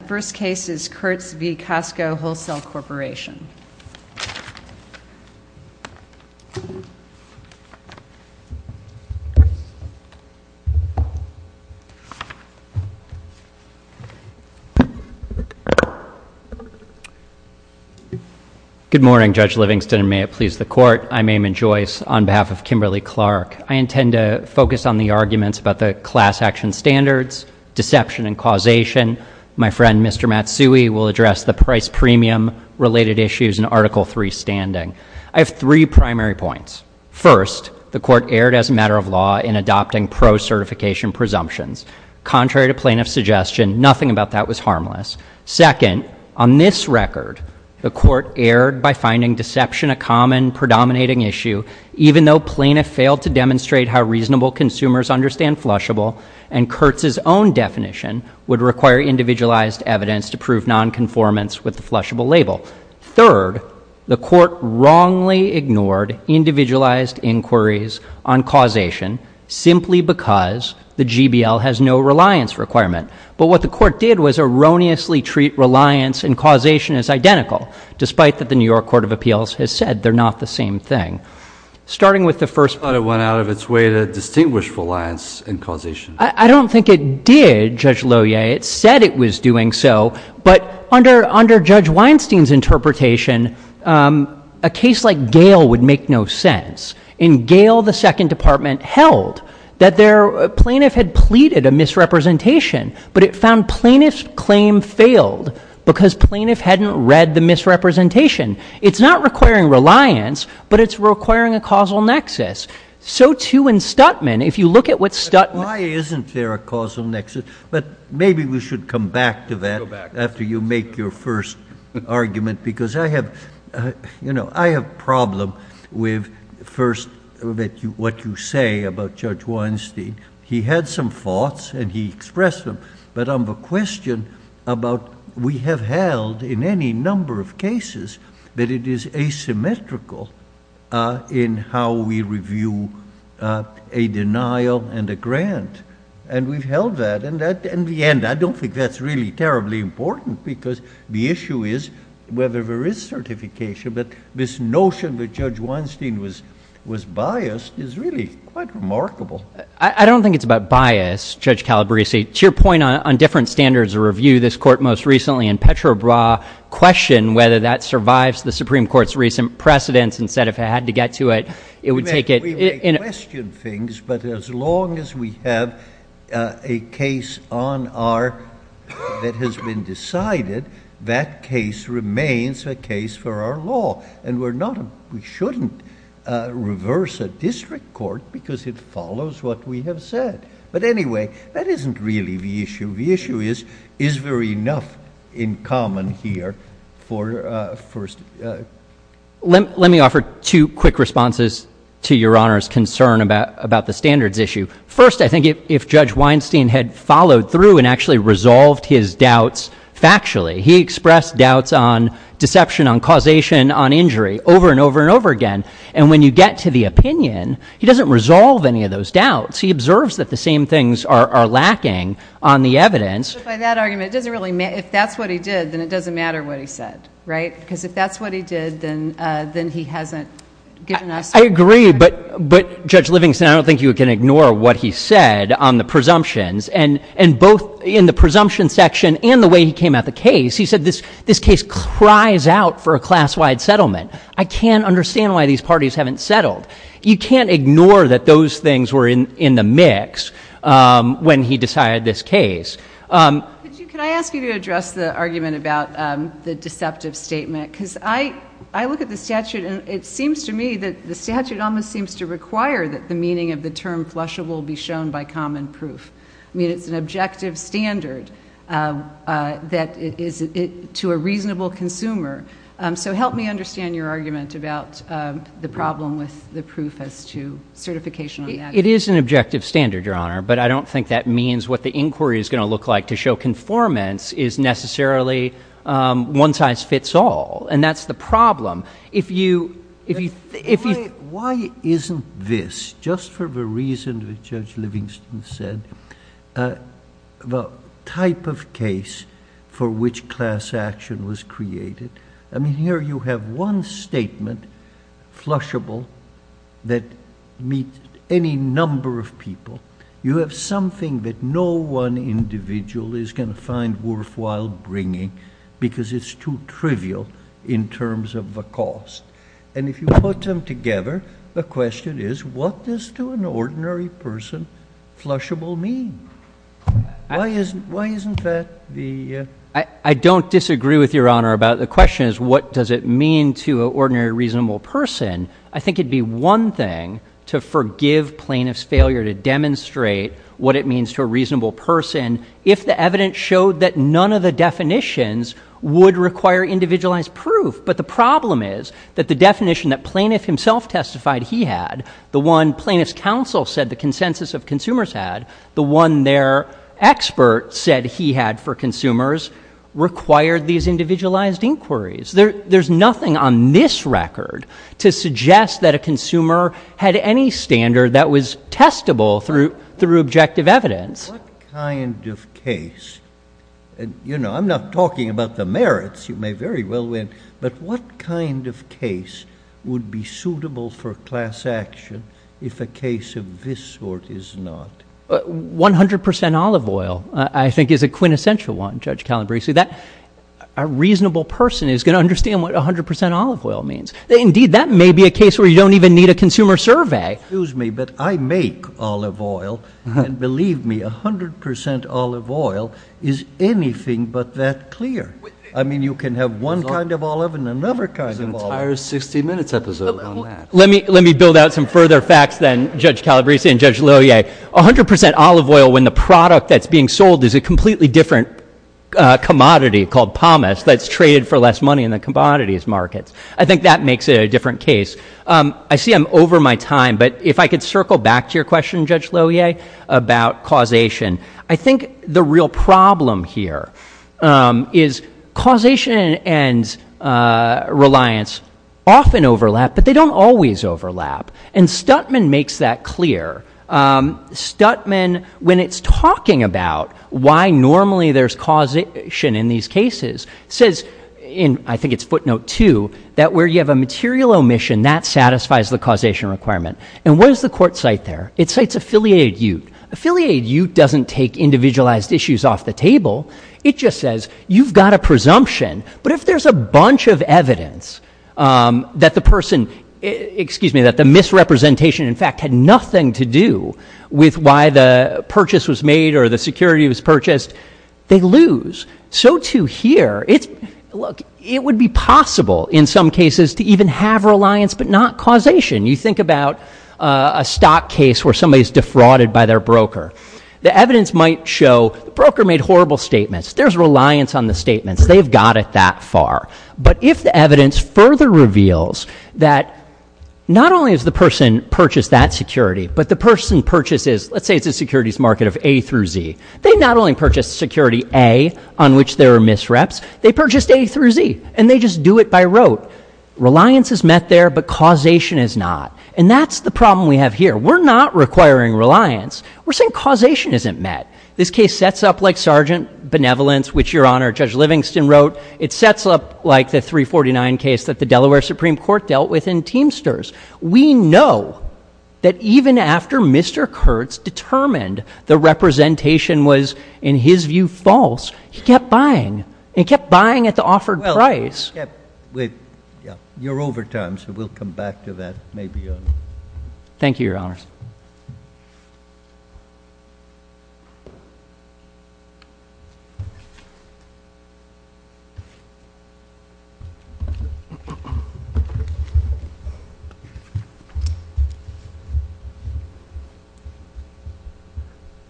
The first case is Kurtz v. Costco Wholesale Corporation. Good morning Judge Livingston and may it please the court. I'm Eamon Joyce on behalf of Kimberly-Clark. I intend to focus on the arguments about the class action standards, deception and causation. My friend Mr. Matsui will address the price premium related issues in Article 3 standing. I have three primary points. First, the court erred as a matter of law in adopting pro-certification presumptions. Contrary to plaintiff's suggestion, nothing about that was harmless. Second, on this record, the court erred by finding deception a common, predominating issue, even though plaintiff failed to demonstrate how reasonable consumers understand flushable and Kurtz's own definition would require individualized evidence to prove non-conformance with the flushable label. Third, the court wrongly ignored individualized inquiries on causation, simply because the GBL has no reliance requirement. But what the court did was erroneously treat reliance and causation as identical, despite that the New York Court of Appeals has said they're not the same thing. Starting with the first point. I thought it went out of its way to distinguish reliance and causation. I don't think it did, Judge Lohier. It said it was doing so. But under Judge Weinstein's interpretation, a case like Gale would make no sense. In Gale, the Second Department held that their plaintiff had pleaded a misrepresentation, but it found plaintiff's claim failed because plaintiff hadn't read the misrepresentation. It's not requiring reliance, but it's requiring a causal nexus. So, too, in Stuttman, if you look at what Stuttman Why isn't there a causal nexus? But maybe we should come back to that after you make your first argument, because I have a problem with, first, what you say about Judge Weinstein. He had some thoughts, and he expressed them. But on the question about we have held in any number of cases that it is asymmetrical in how we review a denial and a grant, and we've held that. And, in the end, I don't think that's really terribly important, because the issue is whether there is certification. But this notion that Judge Weinstein was biased is really quite remarkable. I don't think it's about bias, Judge Calabresi. To your point on different standards of review, this Court most recently in Petrobras questioned whether that survives the Supreme Court's recent precedents and said if it had to get to it, it would take it in a We may question things, but as long as we have a case on our that has been decided, that case remains a case for our law. And we shouldn't reverse a district court because it follows what we have said. But, anyway, that isn't really the issue. The issue is, is there enough in common here for first Let me offer two quick responses to Your Honor's concern about the standards issue. First, I think if Judge Weinstein had followed through and actually resolved his doubts factually, he expressed doubts on deception, on causation, on injury over and over and over again. And when you get to the opinion, he doesn't resolve any of those doubts. He observes that the same things are lacking on the evidence. But by that argument, if that's what he did, then it doesn't matter what he said, right? Because if that's what he did, then he hasn't given us I agree, but Judge Livingston, I don't think you can ignore what he said on the presumptions. And both in the presumption section and the way he came out the case, he said this case cries out for a class-wide settlement. I can't understand why these parties haven't settled. You can't ignore that those things were in the mix when he decided this case. Could I ask you to address the argument about the deceptive statement? Because I look at the statute, and it seems to me that the statute almost seems to require that the meaning of the term flushable be shown by common proof. I mean, it's an objective standard that is to a reasonable consumer. So help me understand your argument about the problem with the proof as to certification on that. It is an objective standard, Your Honor, but I don't think that means what the inquiry is going to look like to show conformance is necessarily one size fits all, and that's the problem. If you Why isn't this, just for the reason that Judge Livingston said, the type of case for which class action was created? I mean, here you have one statement, flushable, that meets any number of people. You have something that no one individual is going to find worthwhile bringing because it's too trivial in terms of the cost. And if you put them together, the question is, what does to an ordinary person flushable mean? Why isn't that the I don't disagree with Your Honor about the question is, what does it mean to an ordinary reasonable person? I think it'd be one thing to forgive plaintiff's failure to demonstrate what it means to a reasonable person if the evidence showed that none of the definitions would require individualized proof. But the problem is that the definition that plaintiff himself testified he had, the one plaintiff's counsel said the consensus of consumers had, the one their expert said he had for consumers, required these individualized inquiries. There's nothing on this record to suggest that a consumer had any standard that was testable through objective evidence. What kind of case? You know, I'm not talking about the merits. You may very well win. But what kind of case would be suitable for class action if a case of this sort is not? 100% olive oil, I think, is a quintessential one, Judge Calabresi. A reasonable person is going to understand what 100% olive oil means. Indeed, that may be a case where you don't even need a consumer survey. Excuse me, but I make olive oil, and believe me, 100% olive oil is anything but that clear. I mean, you can have one kind of olive and another kind of olive. There's an entire 60 Minutes episode on that. Let me build out some further facts, then, Judge Calabresi and Judge Loyer. 100% olive oil, when the product that's being sold is a completely different commodity called pomace that's traded for less money in the commodities markets, I think that makes it a different case. I see I'm over my time, but if I could circle back to your question, Judge Loyer, about causation. I think the real problem here is causation and reliance often overlap, but they don't always overlap. And Stuttman makes that clear. Stuttman, when it's talking about why normally there's causation in these cases, says, and I think it's footnote two, that where you have a material omission, that satisfies the causation requirement. And what does the court cite there? It cites affiliated ute. Affiliated ute doesn't take individualized issues off the table. It just says you've got a presumption, but if there's a bunch of evidence that the person, excuse me, that the misrepresentation, in fact, had nothing to do with why the purchase was made or the security was purchased, they lose. So, too, here, look, it would be possible in some cases to even have reliance, but not causation. You think about a stock case where somebody's defrauded by their broker. The evidence might show the broker made horrible statements. There's reliance on the statements. They've got it that far. But if the evidence further reveals that not only has the person purchased that security, but the person purchases, let's say it's a securities market of A through Z. They not only purchased security A on which there are misreps, they purchased A through Z. And they just do it by rote. Reliance is met there, but causation is not. And that's the problem we have here. We're not requiring reliance. We're saying causation isn't met. This case sets up like Sergeant Benevolence, which, Your Honor, Judge Livingston wrote, it sets up like the 349 case that the Delaware Supreme Court dealt with in Teamsters. We know that even after Mr. Kurtz determined the representation was, in his view, false, he kept buying and kept buying at the offered price. Well, he kept – wait. You're over time, so we'll come back to that maybe on – Thank you, Your Honors. Thank you.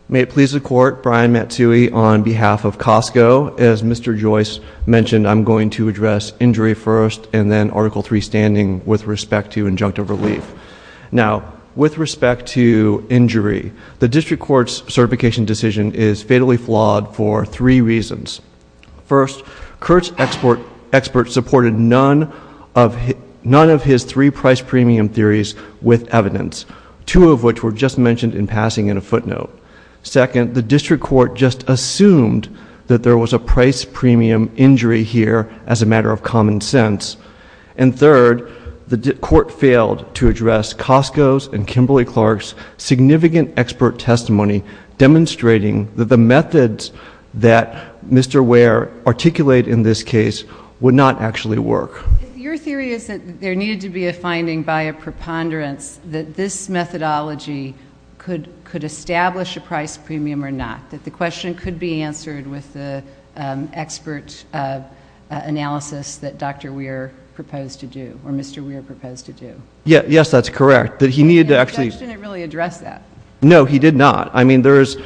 May it please the Court, Brian Matsui on behalf of Costco. As Mr. Joyce mentioned, I'm going to address injury first and then Article III standing with respect to injunctive relief. Now, with respect to injury, the district court's certification decision is fatally flawed for three reasons. First, Kurtz's expert supported none of his three price premium theories with evidence, two of which were just mentioned in passing in a footnote. Second, the district court just assumed that there was a price premium injury here as a matter of common sense. And third, the court failed to address Costco's and Kimberly Clark's significant expert testimony demonstrating that the methods that Mr. Ware articulate in this case would not actually work. Your theory is that there needed to be a finding by a preponderance that this methodology could establish a price premium or not, that the question could be answered with the expert analysis that Dr. Ware proposed to do or Mr. Ware proposed to do. Yes, that's correct. That he needed to actually – And the judge didn't really address that. No, he did not. I mean, there is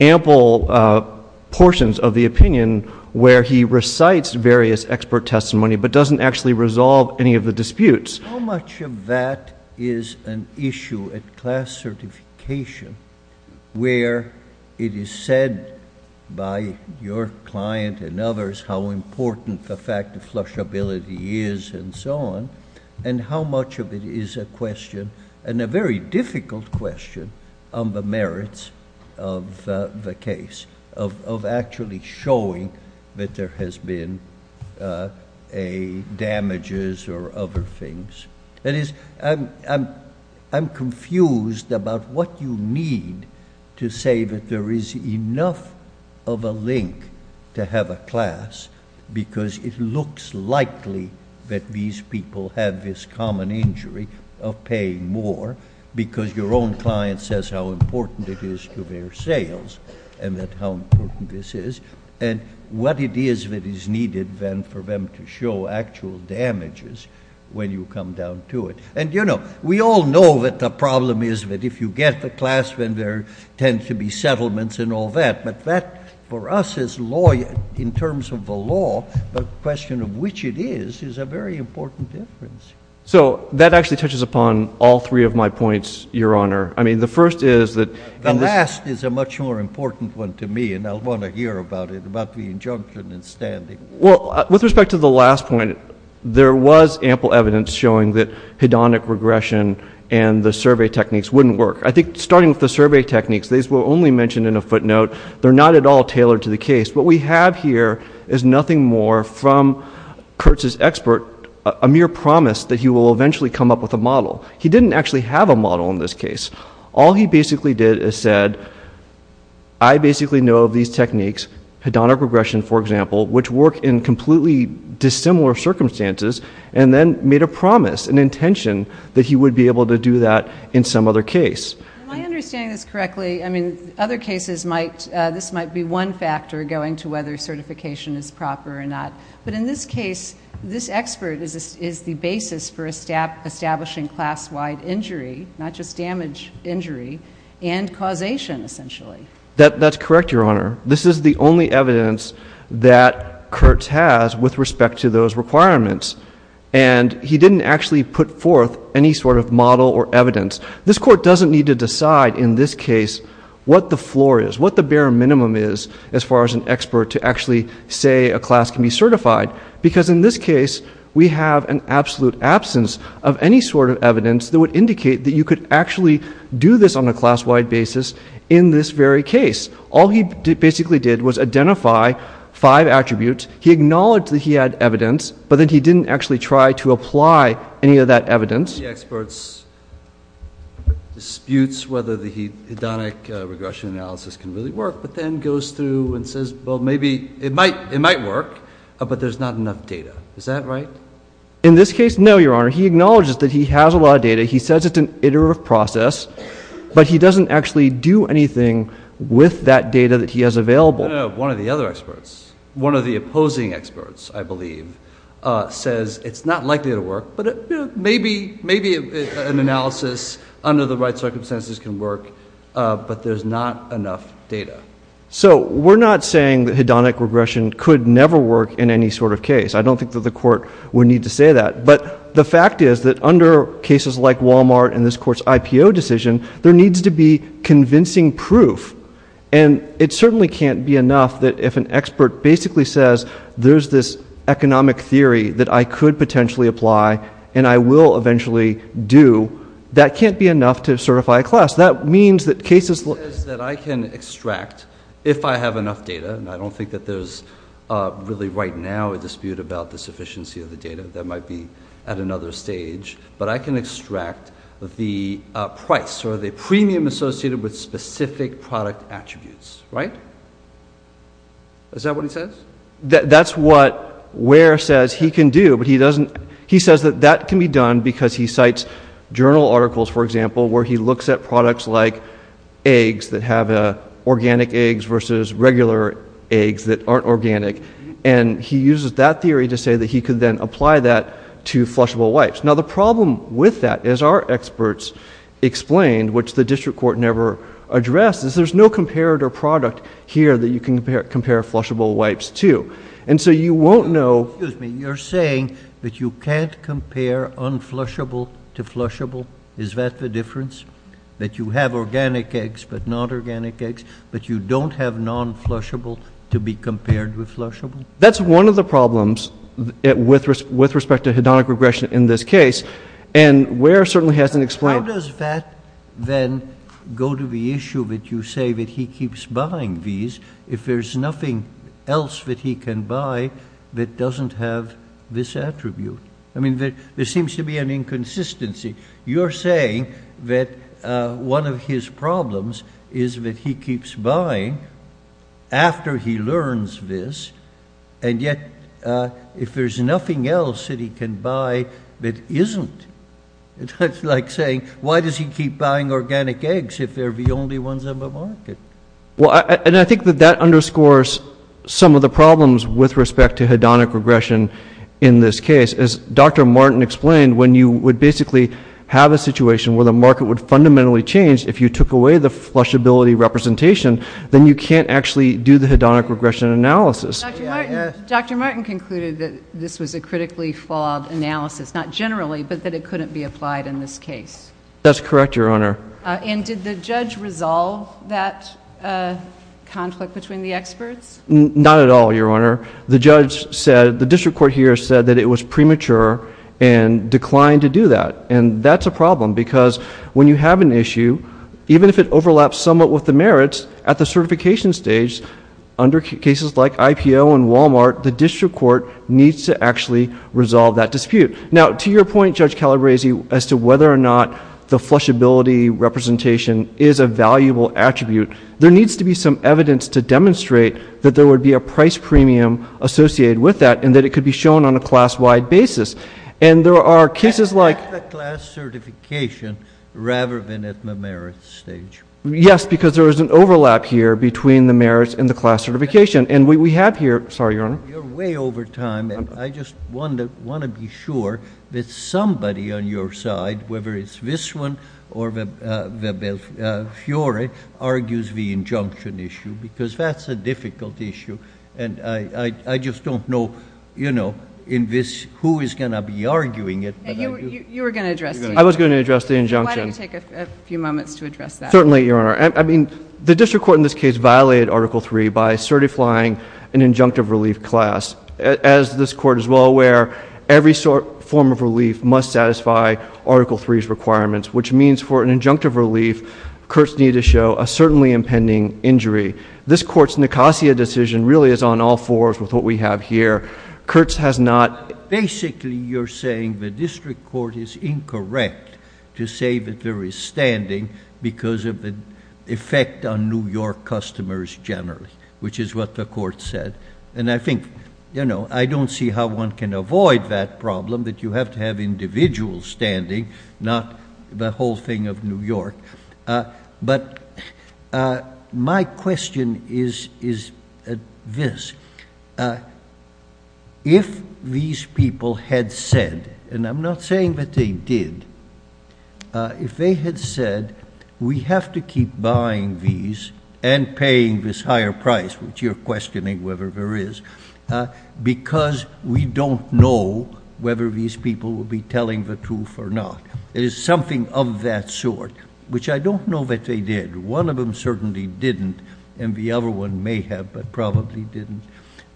ample portions of the opinion where he recites various expert testimony but doesn't actually resolve any of the disputes. How much of that is an issue at class certification where it is said by your client and others how important the fact of flushability is and so on, and how much of it is a question and a very difficult question on the merits of the case, of actually showing that there has been damages or other things. That is, I'm confused about what you need to say that there is enough of a link to have a class because it looks likely that these people have this common injury of paying more because your own client says how important it is to their sales and that how important this is, and what it is that is needed then for them to show actual damages when you come down to it. And, you know, we all know that the problem is that if you get the class, then there tends to be settlements and all that. But that, for us as lawyers, in terms of the law, the question of which it is, is a very important difference. So that actually touches upon all three of my points, Your Honor. I mean, the first is that – The last is a much more important one to me, and I want to hear about it, about the injunction in standing. Well, with respect to the last point, there was ample evidence showing that hedonic regression and the survey techniques wouldn't work. I think starting with the survey techniques, these were only mentioned in a footnote. They're not at all tailored to the case. What we have here is nothing more from Kurtz's expert, a mere promise that he will eventually come up with a model. He didn't actually have a model in this case. All he basically did is said, I basically know of these techniques, hedonic regression, for example, which work in completely dissimilar circumstances, and then made a promise, an intention that he would be able to do that in some other case. Am I understanding this correctly? I mean, other cases might – this might be one factor going to whether certification is proper or not. But in this case, this expert is the basis for establishing class-wide injury, not just damage injury, and causation, essentially. That's correct, Your Honor. This is the only evidence that Kurtz has with respect to those requirements, and he didn't actually put forth any sort of model or evidence. This Court doesn't need to decide in this case what the floor is, what the bare minimum is as far as an expert to actually say a class can be certified, because in this case, we have an absolute absence of any sort of evidence that would indicate that you could actually do this on a class-wide basis in this very case. All he basically did was identify five attributes. He acknowledged that he had evidence, but then he didn't actually try to apply any of that evidence. The experts disputes whether the hedonic regression analysis can really work, but then goes through and says, well, maybe it might work, but there's not enough data. Is that right? In this case, no, Your Honor. He acknowledges that he has a lot of data. He says it's an iterative process, but he doesn't actually do anything with that data that he has available. No, no, no. One of the other experts, one of the opposing experts, I believe, says it's not likely to work, but maybe an analysis under the right circumstances can work, but there's not enough data. So we're not saying that hedonic regression could never work in any sort of case. I don't think that the Court would need to say that, but the fact is that under cases like Walmart and this Court's IPO decision, there needs to be convincing proof, and it certainly can't be enough that if an expert basically says there's this economic theory that I could potentially apply and I will eventually do, that can't be enough to certify a class. That means that cases like- He says that I can extract, if I have enough data, and I don't think that there's really right now a dispute about the sufficiency of the data. That might be at another stage. But I can extract the price or the premium associated with specific product attributes, right? Is that what he says? That's what Ware says he can do, but he says that that can be done because he cites journal articles, for example, where he looks at products like eggs that have organic eggs versus regular eggs that aren't organic, and he uses that theory to say that he could then apply that to flushable wipes. Now, the problem with that, as our experts explained, which the District Court never addressed, is there's no comparator product here that you can compare flushable wipes to. And so you won't know- Excuse me. You're saying that you can't compare unflushable to flushable? Is that the difference, that you have organic eggs but not organic eggs, but you don't have non-flushable to be compared with flushable? That's one of the problems with respect to hedonic regression in this case, and Ware certainly hasn't explained- You can go to the issue that you say that he keeps buying these if there's nothing else that he can buy that doesn't have this attribute. I mean, there seems to be an inconsistency. You're saying that one of his problems is that he keeps buying after he learns this, and yet if there's nothing else that he can buy that isn't, it's like saying, why does he keep buying organic eggs if they're the only ones on the market? Well, and I think that that underscores some of the problems with respect to hedonic regression in this case. As Dr. Martin explained, when you would basically have a situation where the market would fundamentally change if you took away the flushability representation, then you can't actually do the hedonic regression analysis. Dr. Martin concluded that this was a critically flawed analysis, not generally, but that it couldn't be applied in this case. That's correct, Your Honor. And did the judge resolve that conflict between the experts? Not at all, Your Honor. The district court here said that it was premature and declined to do that, and that's a problem because when you have an issue, even if it overlaps somewhat with the merits at the certification stage, under cases like IPO and Walmart, the district court needs to actually resolve that dispute. Now, to your point, Judge Calabresi, as to whether or not the flushability representation is a valuable attribute, there needs to be some evidence to demonstrate that there would be a price premium associated with that and that it could be shown on a class-wide basis. And there are cases like — At the class certification rather than at the merits stage. Yes, because there is an overlap here between the merits and the class certification. And we have here — sorry, Your Honor. You're way over time, and I just want to be sure that somebody on your side, whether it's this one or the Fiore, argues the injunction issue because that's a difficult issue. And I just don't know, you know, in this, who is going to be arguing it. You were going to address it. I was going to address the injunction. Why don't you take a few moments to address that? Certainly, Your Honor. I mean, the district court in this case violated Article III by certifying an injunctive relief class. As this Court is well aware, every form of relief must satisfy Article III's requirements, which means for an injunctive relief, Kurtz needed to show a certainly impending injury. This Court's Nicosia decision really is on all fours with what we have here. Kurtz has not — Basically, you're saying the district court is incorrect to say that there is standing because of the effect on New York customers generally, which is what the Court said. And I think, you know, I don't see how one can avoid that problem, that you have to have individual standing, not the whole thing of New York. But my question is this. If these people had said — and I'm not saying that they did — if they had said, we have to keep buying these and paying this higher price, which you're questioning whether there is, because we don't know whether these people will be telling the truth or not. It is something of that sort, which I don't know that they did. One of them certainly didn't, and the other one may have, but probably didn't.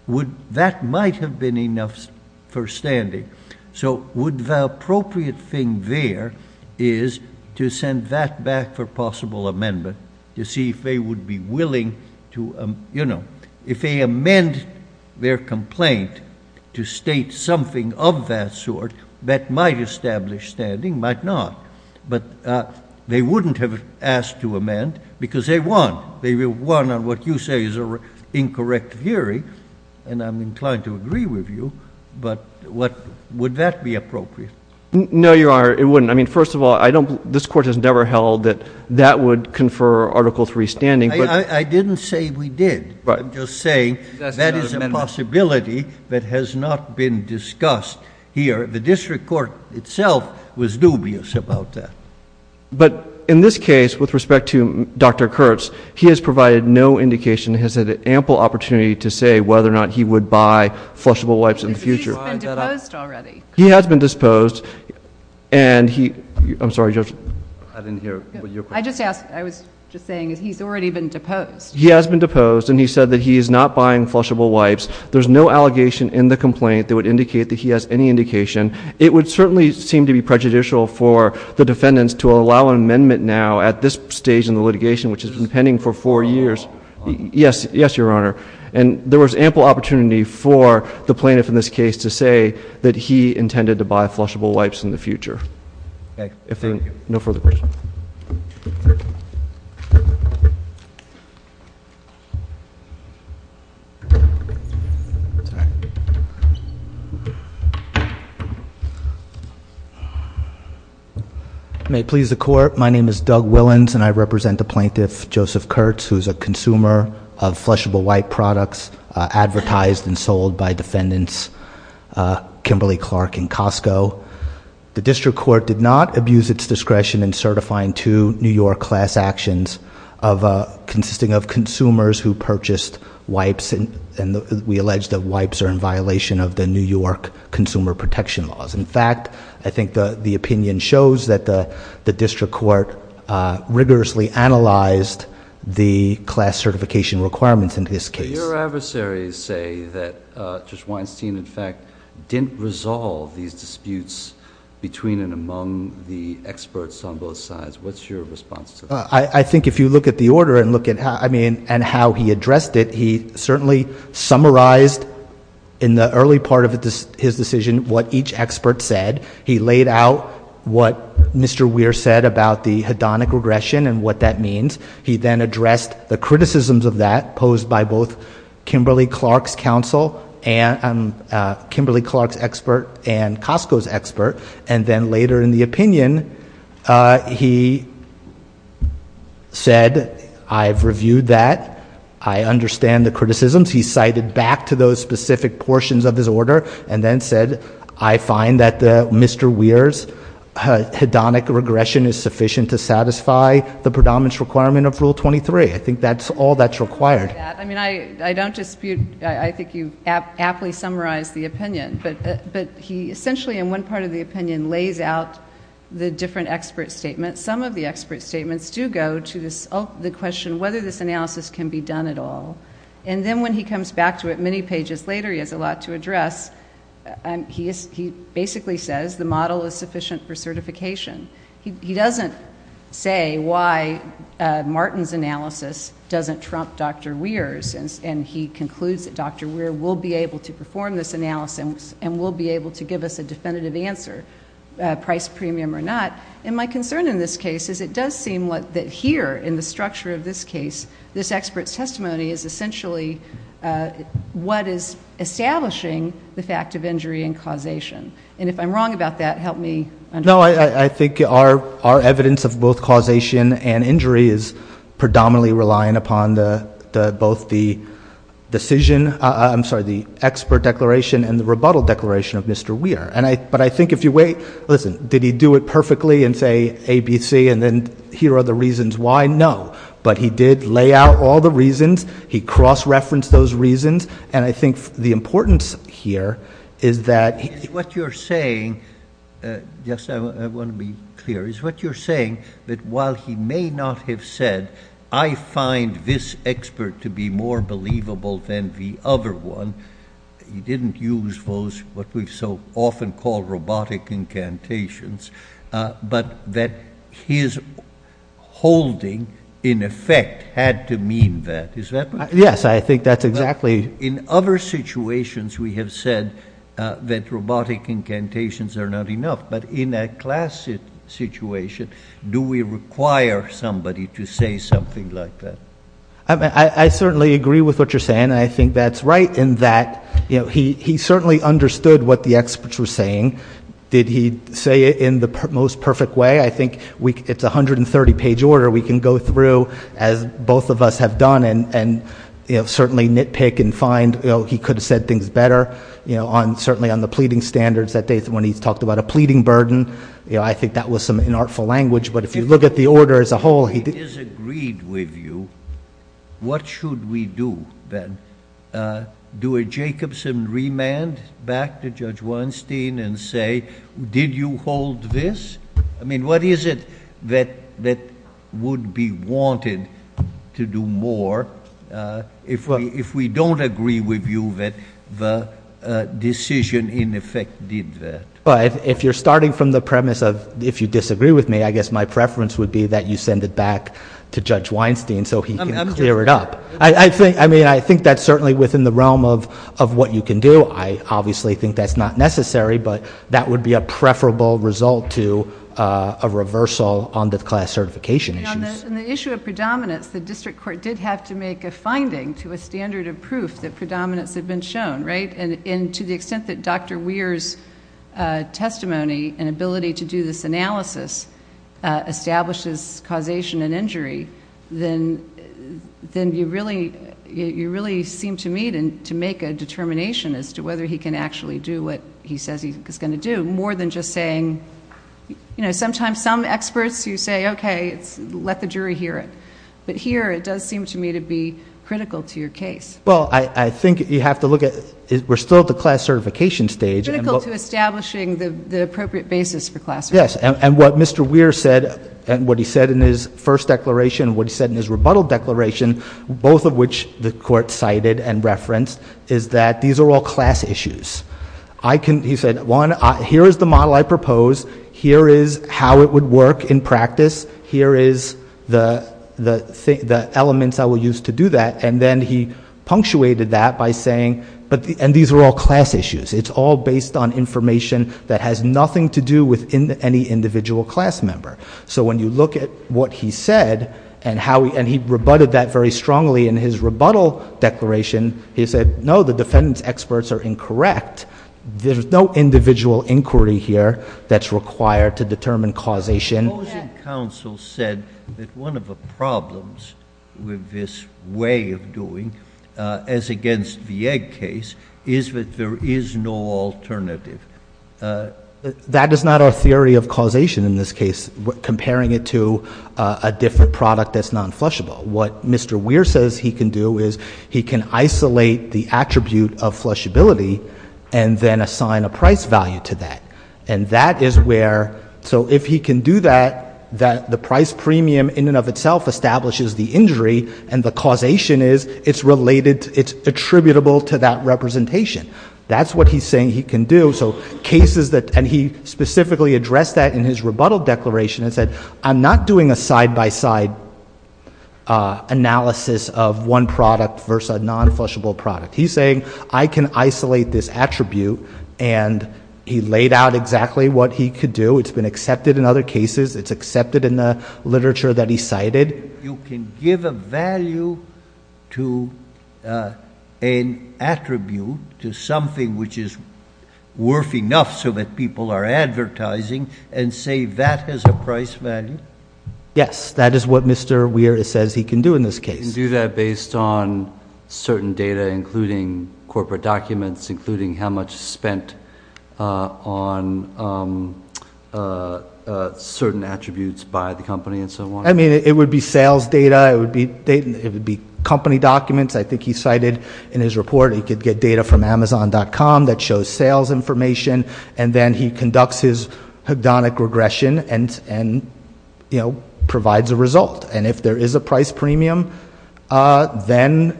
Would — that might have been enough for standing. So would the appropriate thing there is to send that back for possible amendment to see if they would be willing to — you know, if they amend their complaint to state something of that sort, that might establish standing, might not. But they wouldn't have asked to amend because they won. They won on what you say is an incorrect theory, and I'm inclined to agree with you. But would that be appropriate? No, Your Honor, it wouldn't. I mean, first of all, I don't — this Court has never held that that would confer Article III standing. I didn't say we did. I'm just saying that is a possibility that has not been discussed here. The district court itself was dubious about that. But in this case, with respect to Dr. Kurtz, he has provided no indication, has had ample opportunity to say whether or not he would buy flushable wipes in the future. He's been deposed already. He has been disposed, and he — I'm sorry, Judge. I didn't hear what you're — I just asked — I was just saying he's already been deposed. He has been deposed, and he said that he is not buying flushable wipes. There's no allegation in the complaint that would indicate that he has any indication. It would certainly seem to be prejudicial for the defendants to allow an amendment now at this stage in the litigation, which has been pending for four years. Yes, Your Honor. And there was ample opportunity for the plaintiff in this case to say that he intended to buy flushable wipes in the future. Thank you. If there are no further questions. May it please the Court. My name is Doug Willans, and I represent the plaintiff, Joseph Kurtz, who is a consumer of flushable wipe products advertised and sold by defendants Kimberly, Clark, and Costco. The district court did not abuse its discretion in certifying two New York class actions consisting of consumers who purchased wipes, and we allege that wipes are in violation of the New York consumer protection laws. In fact, I think the opinion shows that the district court rigorously analyzed the class certification requirements in this case. Your adversaries say that Judge Weinstein, in fact, didn't resolve these disputes between and among the experts on both sides. What's your response to that? I think if you look at the order and look at how he addressed it, he certainly summarized in the early part of his decision what each expert said. He laid out what Mr. Weir said about the hedonic regression and what that means. He then addressed the criticisms of that posed by both Kimberly Clark's expert and Costco's expert. And then later in the opinion, he said, I've reviewed that. I understand the criticisms. He cited back to those specific portions of his order and then said, I find that Mr. Weir's hedonic regression is sufficient to satisfy the predominance requirement of Rule 23. I think that's all that's required. I don't dispute. I think you aptly summarized the opinion. But he essentially, in one part of the opinion, lays out the different expert statements. Some of the expert statements do go to the question whether this analysis can be done at all. And then when he comes back to it many pages later, he has a lot to address. He basically says the model is sufficient for certification. He doesn't say why Martin's analysis doesn't trump Dr. Weir's, and he concludes that Dr. Weir will be able to perform this analysis and will be able to give us a definitive answer, price premium or not. And my concern in this case is it does seem that here in the structure of this case, this expert's testimony is essentially what is establishing the fact of injury and causation. And if I'm wrong about that, help me understand. No, I think our evidence of both causation and injury is predominantly relying upon both the decision, I'm sorry, the expert declaration and the rebuttal declaration of Mr. Weir. But I think if you wait, listen, did he do it perfectly and say A, B, C, and then here are the reasons why? No. But he did lay out all the reasons. He cross-referenced those reasons. And I think the importance here is that he – Is what you're saying, yes, I want to be clear. Is what you're saying that while he may not have said, I find this expert to be more believable than the other one, he didn't use what we so often call robotic incantations, but that his holding, in effect, had to mean that. Is that what you're saying? Yes, I think that's exactly. In other situations we have said that robotic incantations are not enough. But in a classic situation, do we require somebody to say something like that? I certainly agree with what you're saying. And I think that's right in that he certainly understood what the experts were saying. Did he say it in the most perfect way? I think it's a 130-page order we can go through, as both of us have done, and certainly nitpick and find he could have said things better, certainly on the pleading standards that day when he talked about a pleading burden. I think that was some inartful language. But if you look at the order as a whole, he did. If we disagreed with you, what should we do then? Do a Jacobson remand back to Judge Weinstein and say, did you hold this? I mean, what is it that would be wanted to do more if we don't agree with you that the decision, in effect, did that? If you're starting from the premise of if you disagree with me, I guess my preference would be that you send it back to Judge Weinstein so he can clear it up. I mean, I think that's certainly within the realm of what you can do. I obviously think that's not necessary, but that would be a preferable result to a reversal on the class certification issues. On the issue of predominance, the district court did have to make a finding to a standard of proof that predominance had been shown, right? And to the extent that Dr. Weir's testimony and ability to do this analysis establishes causation and injury, then you really seem to need to make a determination as to whether he can actually do what he says he's going to do, more than just saying... Sometimes some experts, you say, okay, let the jury hear it. But here, it does seem to me to be critical to your case. Well, I think you have to look at... we're still at the class certification stage. Critical to establishing the appropriate basis for class certification. Yes, and what Mr. Weir said, and what he said in his first declaration, what he said in his rebuttal declaration, both of which the court cited and referenced, is that these are all class issues. He said, one, here is the model I propose. Here is how it would work in practice. Here is the elements I will use to do that. And then he punctuated that by saying, and these are all class issues. It's all based on information that has nothing to do with any individual class member. So when you look at what he said, and he rebutted that very strongly in his rebuttal declaration, he said, no, the defendant's experts are incorrect. There's no individual inquiry here that's required to determine causation. The opposing counsel said that one of the problems with this way of doing, as against the Egg case, is that there is no alternative. That is not our theory of causation in this case, comparing it to a different product that's non-flushable. What Mr. Weir says he can do is he can isolate the attribute of flushability and then assign a price value to that. And that is where, so if he can do that, the price premium in and of itself establishes the injury, and the causation is it's related, it's attributable to that representation. That's what he's saying he can do. And he specifically addressed that in his rebuttal declaration and said, I'm not doing a side-by-side analysis of one product versus a non-flushable product. He's saying I can isolate this attribute, and he laid out exactly what he could do. It's been accepted in other cases. It's accepted in the literature that he cited. You can give a value to an attribute to something which is worth enough so that people are advertising and say that has a price value? Yes, that is what Mr. Weir says he can do in this case. He can do that based on certain data, including corporate documents, including how much is spent on certain attributes by the company and so on? I mean, it would be sales data. It would be company documents. I think he cited in his report he could get data from Amazon.com that shows sales information, and then he conducts his hedonic regression and provides a result. And if there is a price premium, then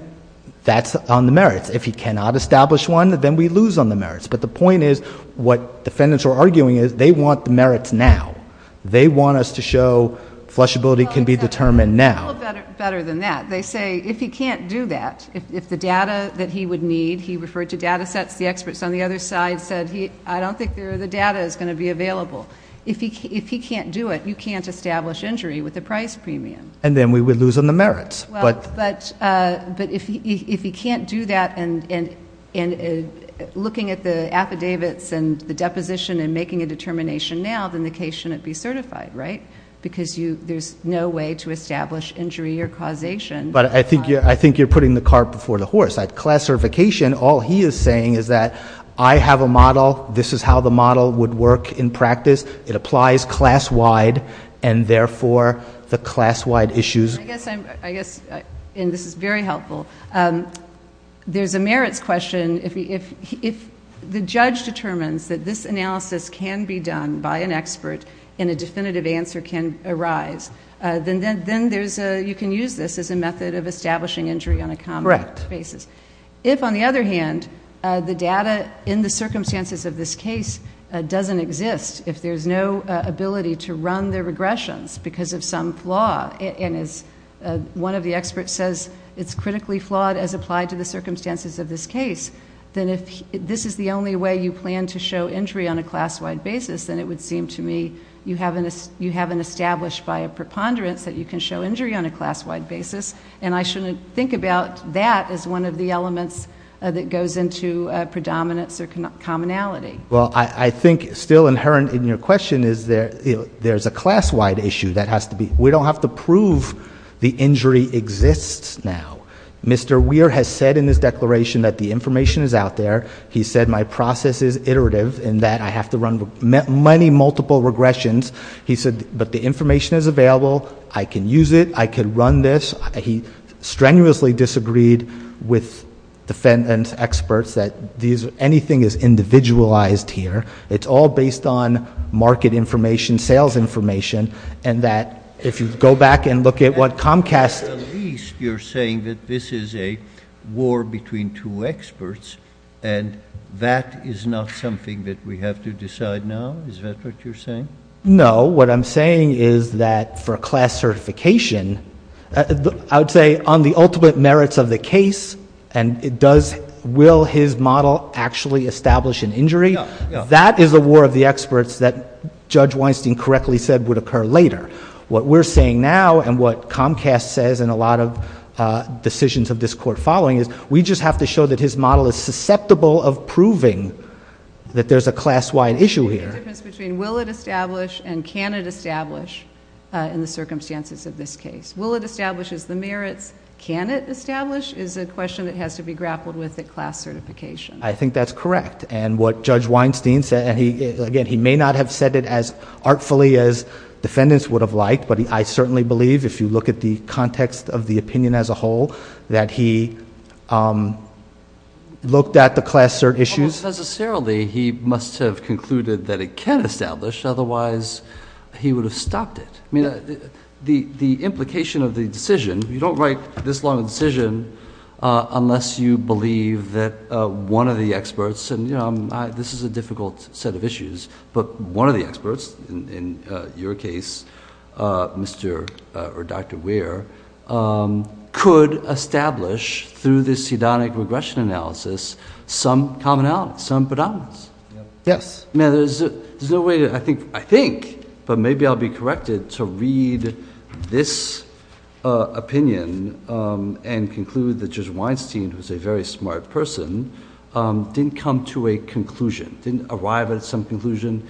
that's on the merits. If he cannot establish one, then we lose on the merits. But the point is what defendants are arguing is they want the merits now. They want us to show flushability can be determined now. It's a little better than that. They say if he can't do that, if the data that he would need, he referred to data sets, the experts on the other side said, I don't think the data is going to be available. If he can't do it, you can't establish injury with a price premium. And then we would lose on the merits. But if he can't do that and looking at the affidavits and the deposition and making a determination now, then the case shouldn't be certified, right? Because there's no way to establish injury or causation. But I think you're putting the cart before the horse. At class certification, all he is saying is that I have a model, this is how the model would work in practice, it applies class-wide, and therefore the class-wide issues. I guess, and this is very helpful, there's a merits question. If the judge determines that this analysis can be done by an expert and a definitive answer can arise, then you can use this as a method of establishing injury on a common basis. Correct. If, on the other hand, the data in the circumstances of this case doesn't exist, if there's no ability to run the regressions because of some flaw, and as one of the experts says, it's critically flawed as applied to the circumstances of this case, then if this is the only way you plan to show injury on a class-wide basis, then it would seem to me you haven't established by a preponderance that you can show injury on a class-wide basis. And I shouldn't think about that as one of the elements that goes into predominance or commonality. Well, I think still inherent in your question is there's a class-wide issue. We don't have to prove the injury exists now. Mr. Weir has said in his declaration that the information is out there. He said my process is iterative in that I have to run many multiple regressions. He said, but the information is available, I can use it, I can run this. He strenuously disagreed with defendant experts that anything is individualized here. It's all based on market information, sales information, and that if you go back and look at what Comcast... At least you're saying that this is a war between two experts, and that is not something that we have to decide now? Is that what you're saying? No. No, what I'm saying is that for a class certification, I would say on the ultimate merits of the case, and will his model actually establish an injury? No, no. That is a war of the experts that Judge Weinstein correctly said would occur later. What we're saying now and what Comcast says in a lot of decisions of this Court following is we just have to show that his model is susceptible of proving that there's a class-wide issue here. There's a difference between will it establish and can it establish in the circumstances of this case. Will it establish as the merits? Can it establish is a question that has to be grappled with at class certification. I think that's correct, and what Judge Weinstein said... Again, he may not have said it as artfully as defendants would have liked, but I certainly believe, if you look at the context of the opinion as a whole, that he looked at the class cert issues... otherwise he would have stopped it. The implication of the decision... You don't write this long a decision unless you believe that one of the experts... and this is a difficult set of issues, but one of the experts, in your case, Mr. or Dr. Weir, could establish, through this hedonic regression analysis, some commonality, some predominance. Yes. There's no way... I think, but maybe I'll be corrected to read this opinion and conclude that Judge Weinstein, who's a very smart person, didn't come to a conclusion, didn't arrive at some conclusion,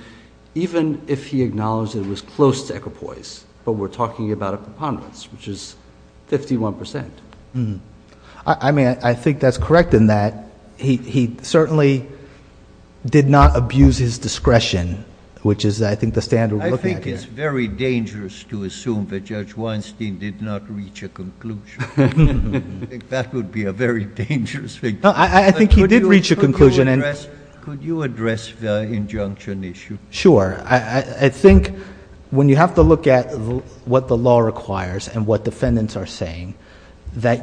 even if he acknowledged it was close to equipoise, but we're talking about a preponderance, which is 51 percent. He certainly did not abuse his discretion, which is, I think, the standard we're looking at here. I think it's very dangerous to assume that Judge Weinstein did not reach a conclusion. I think that would be a very dangerous thing. I think he did reach a conclusion. Could you address the injunction issue? Sure. I think when you have to look at what the law requires and what defendants are saying, that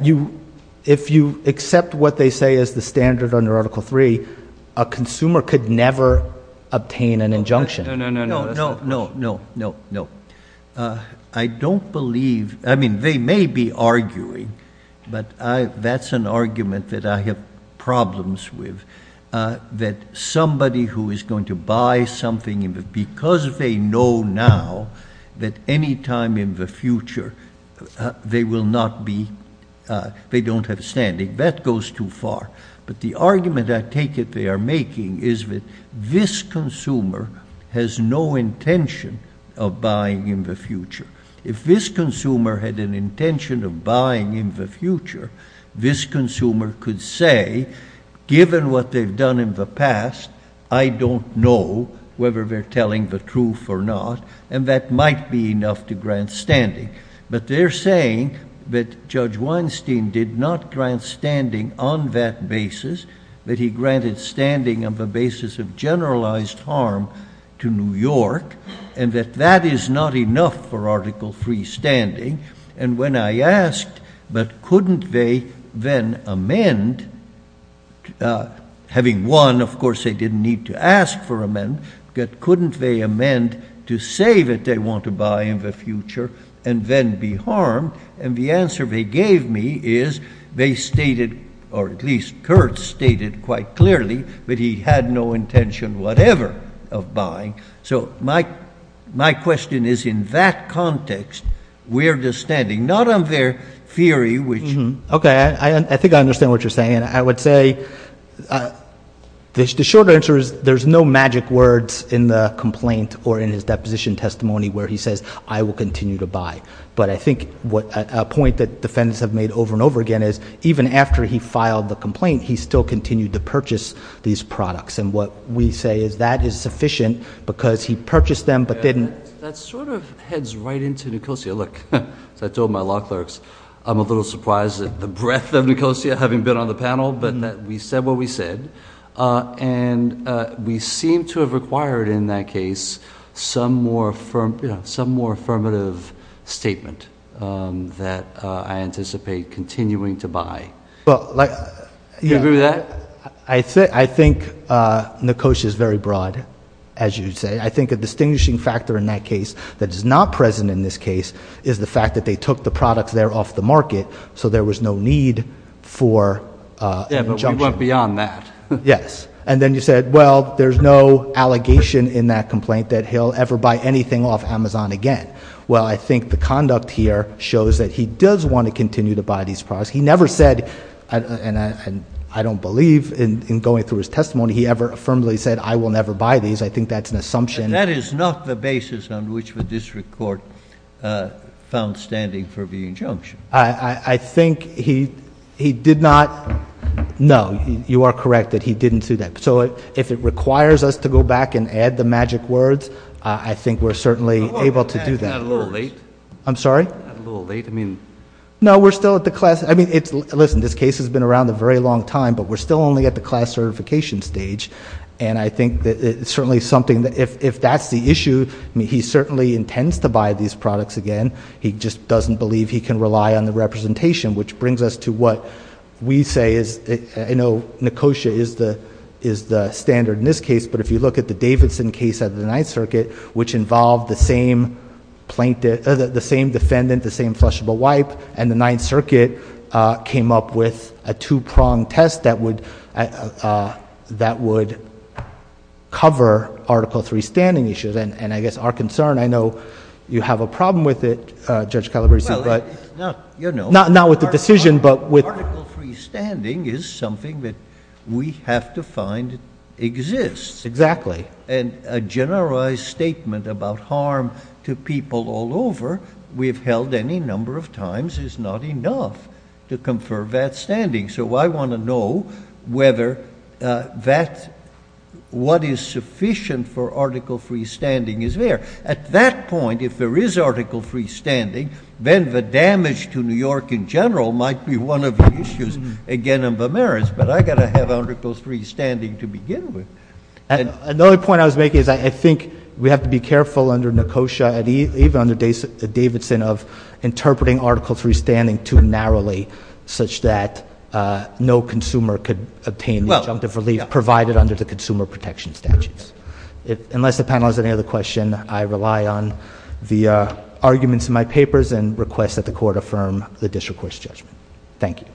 if you accept what they say is the standard under Article III, a consumer could never obtain an injunction. No, no, no. I don't believe... I mean, they may be arguing, but that's an argument that I have problems with, that somebody who is going to buy something because they know now that any time in the future they will not be... they don't have standing. That goes too far. But the argument I take it they are making is that this consumer has no intention of buying in the future. If this consumer had an intention of buying in the future, this consumer could say, given what they've done in the past, I don't know whether they're telling the truth or not, and that might be enough to grant standing. But they're saying that Judge Weinstein did not grant standing on that basis, that he granted standing on the basis of generalized harm to New York, and that that is not enough for Article III standing. And when I asked, but couldn't they then amend, having won, of course, they didn't need to ask for amend, but couldn't they amend to say that they want to buy in the future and then be harmed? And the answer they gave me is they stated, or at least Kurt stated quite clearly, that he had no intention whatever of buying. So my question is in that context, we're just standing, not on their theory, which... Okay. I think I understand what you're saying. I would say the short answer is there's no magic words in the complaint or in his deposition testimony where he says, I will continue to buy. But I think a point that defendants have made over and over again is even after he filed the complaint, he still continued to purchase these products. And what we say is that is sufficient because he purchased them but didn't... That sort of heads right into Nicosia. Look, as I told my law clerks, I'm a little surprised at the breadth of Nicosia, having been on the panel, but we said what we said. And we seem to have required in that case some more affirmative statement that I anticipate continuing to buy. Do you agree with that? I think Nicosia is very broad, as you say. I think a distinguishing factor in that case that is not present in this case is the fact that they took the products there off the market, so there was no need for injunction. Yeah, but we went beyond that. Yes. And then you said, well, there's no allegation in that complaint that he'll ever buy anything off Amazon again. Well, I think the conduct here shows that he does want to continue to buy these products. He never said, and I don't believe in going through his testimony, he ever affirmatively said, I will never buy these. I think that's an assumption. But that is not the basis on which the district court found standing for the injunction. I think he did not. No, you are correct that he didn't do that. So if it requires us to go back and add the magic words, I think we're certainly able to do that. Isn't that a little late? I'm sorry? Isn't that a little late? No, we're still at the class. I mean, listen, this case has been around a very long time, but we're still only at the class certification stage, and I think that it's certainly something that if that's the issue, I mean, he certainly intends to buy these products again. He just doesn't believe he can rely on the representation, which brings us to what we say is, you know, Nicosia is the standard in this case, but if you look at the Davidson case at the Ninth Circuit, which involved the same defendant, the same flushable wipe, and the Ninth Circuit came up with a two-pronged test that would cover Article III standing issues, and I guess our concern, I know you have a problem with it, Judge Calabresi. Well, you know. Not with the decision, but with... Article III standing is something that we have to find exists. Exactly. And a generalized statement about harm to people all over we have held any number of times is not enough to confer that standing. So I want to know whether that, what is sufficient for Article III standing is there. At that point, if there is Article III standing, then the damage to New York in general might be one of the issues, again, in the merits, but I've got to have Article III standing to begin with. Another point I was making is I think we have to be careful under Nicosia and even under Davidson of interpreting Article III standing too narrowly such that no consumer could obtain the injunctive relief provided under the consumer protection statutes. Unless the panel has any other questions, I rely on the arguments in my papers and request that the Court affirm the district court's judgment. Thank you.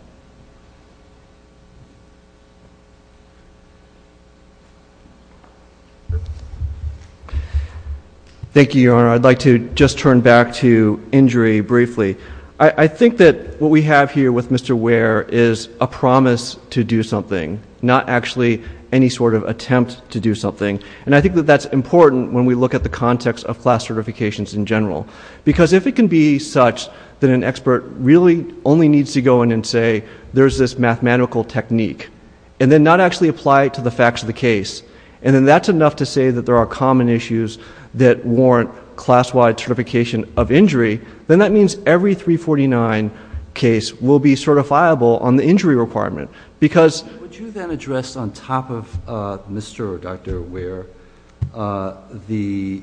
Thank you, Your Honor. I'd like to just turn back to injury briefly. I think that what we have here with Mr. Ware is a promise to do something, not actually any sort of attempt to do something. And I think that that's important when we look at the context of class certifications in general because if it can be such that an expert really only needs to go in and say there's this mathematical technique and then not actually apply it to the facts of the case, and then that's enough to say that there are common issues that warrant class-wide certification of injury, then that means every 349 case will be certifiable on the injury requirement because... Would you then address on top of Mr. or Dr. Ware the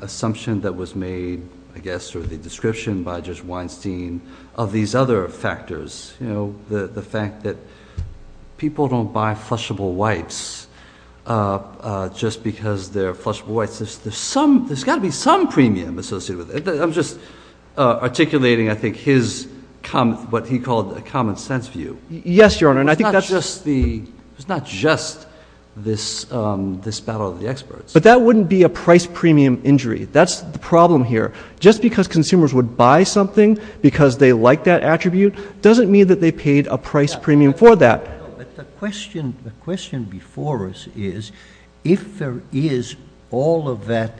assumption that was made, I guess, or the description by Judge Weinstein of these other factors? You know, the fact that people don't buy flushable wipes just because they're flushable wipes. There's got to be some premium associated with it. I'm just articulating, I think, what he called a common-sense view. Yes, Your Honor, and I think that's just the... It's not just this battle of the experts. But that wouldn't be a price-premium injury. That's the problem here. Just because consumers would buy something because they like that attribute doesn't mean that they paid a price premium for that. But the question before us is if there is all of that...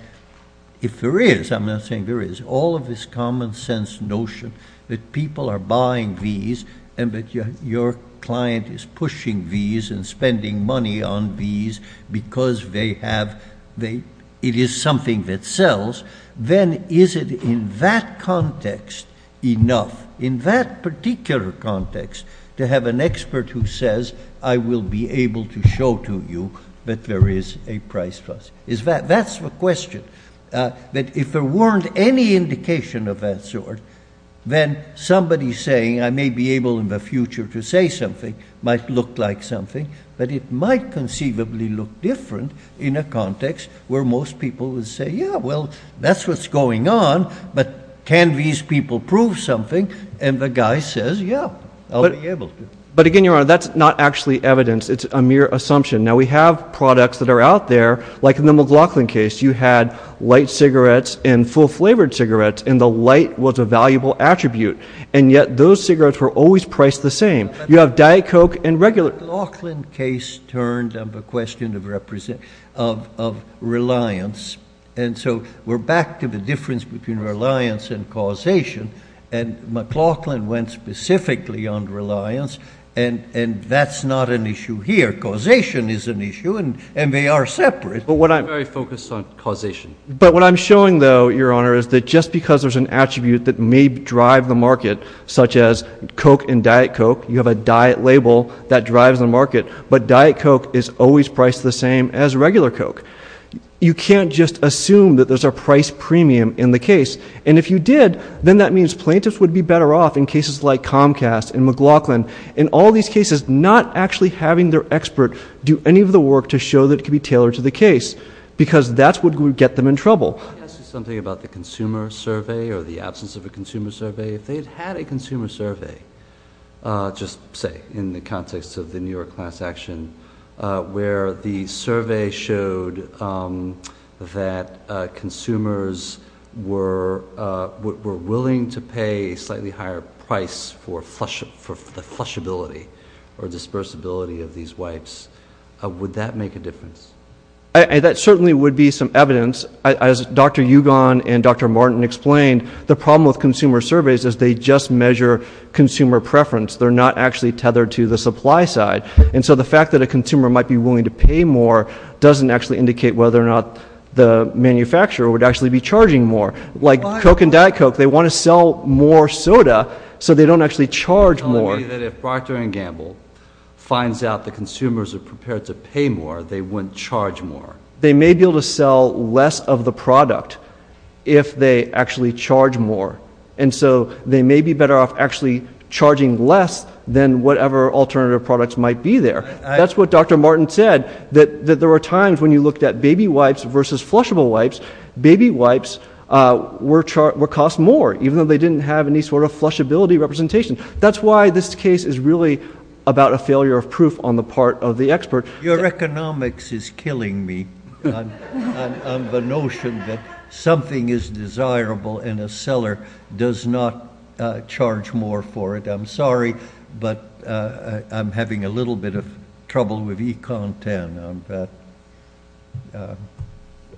If there is, I'm not saying there is, all of this common-sense notion that people are buying these and that your client is pushing these and spending money on these because they have... Then is it in that context enough, in that particular context, to have an expert who says, I will be able to show to you that there is a price plus? That's the question. If there weren't any indication of that sort, then somebody saying, I may be able in the future to say something, might look like something. But it might conceivably look different in a context where most people would say, yeah, well, that's what's going on, but can these people prove something? And the guy says, yeah, I'll be able to. But again, Your Honor, that's not actually evidence. It's a mere assumption. Now we have products that are out there, like in the McLaughlin case. You had light cigarettes and full-flavored cigarettes, and the light was a valuable attribute. And yet those cigarettes were always priced the same. You have Diet Coke and regular... The McLaughlin case turned up a question of reliance. And so we're back to the difference between reliance and causation. And McLaughlin went specifically on reliance, and that's not an issue here. Causation is an issue, and they are separate. I'm very focused on causation. But what I'm showing, though, Your Honor, is that just because there's an attribute that may drive the market, such as Coke and Diet Coke, you have a diet label that drives the market. But Diet Coke is always priced the same as regular Coke. You can't just assume that there's a price premium in the case. And if you did, then that means plaintiffs would be better off in cases like Comcast and McLaughlin. In all these cases, not actually having their expert do any of the work to show that it could be tailored to the case, because that's what would get them in trouble. Can I ask you something about the consumer survey or the absence of a consumer survey? If they had had a consumer survey, just say, in the context of the New York class action, where the survey showed that consumers were willing to pay a slightly higher price for the flushability or dispersibility of these wipes, would that make a difference? That certainly would be some evidence. As Dr. Ugon and Dr. Martin explained, the problem with consumer surveys is they just measure consumer preference. They're not actually tethered to the supply side. And so the fact that a consumer might be willing to pay more doesn't actually indicate whether or not the manufacturer would actually be charging more. Like Coke and Diet Coke, they want to sell more soda, so they don't actually charge more. So you're telling me that if Procter & Gamble finds out that consumers are prepared to pay more, they wouldn't charge more? They may be able to sell less of the product if they actually charge more. And so they may be better off actually charging less than whatever alternative products might be there. That's what Dr. Martin said, that there were times when you looked at baby wipes versus flushable wipes, baby wipes would cost more, even though they didn't have any sort of flushability representation. That's why this case is really about a failure of proof on the part of the expert. Your economics is killing me on the notion that something is desirable and a seller does not charge more for it. I'm sorry, but I'm having a little bit of trouble with e-content on that.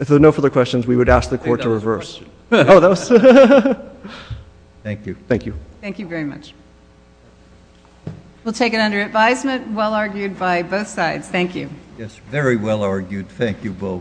If there are no further questions, we would ask the Court to reverse. Thank you. Thank you. Thank you very much. We'll take it under advisement, well argued by both sides. Thank you. Yes, very well argued. Thank you both.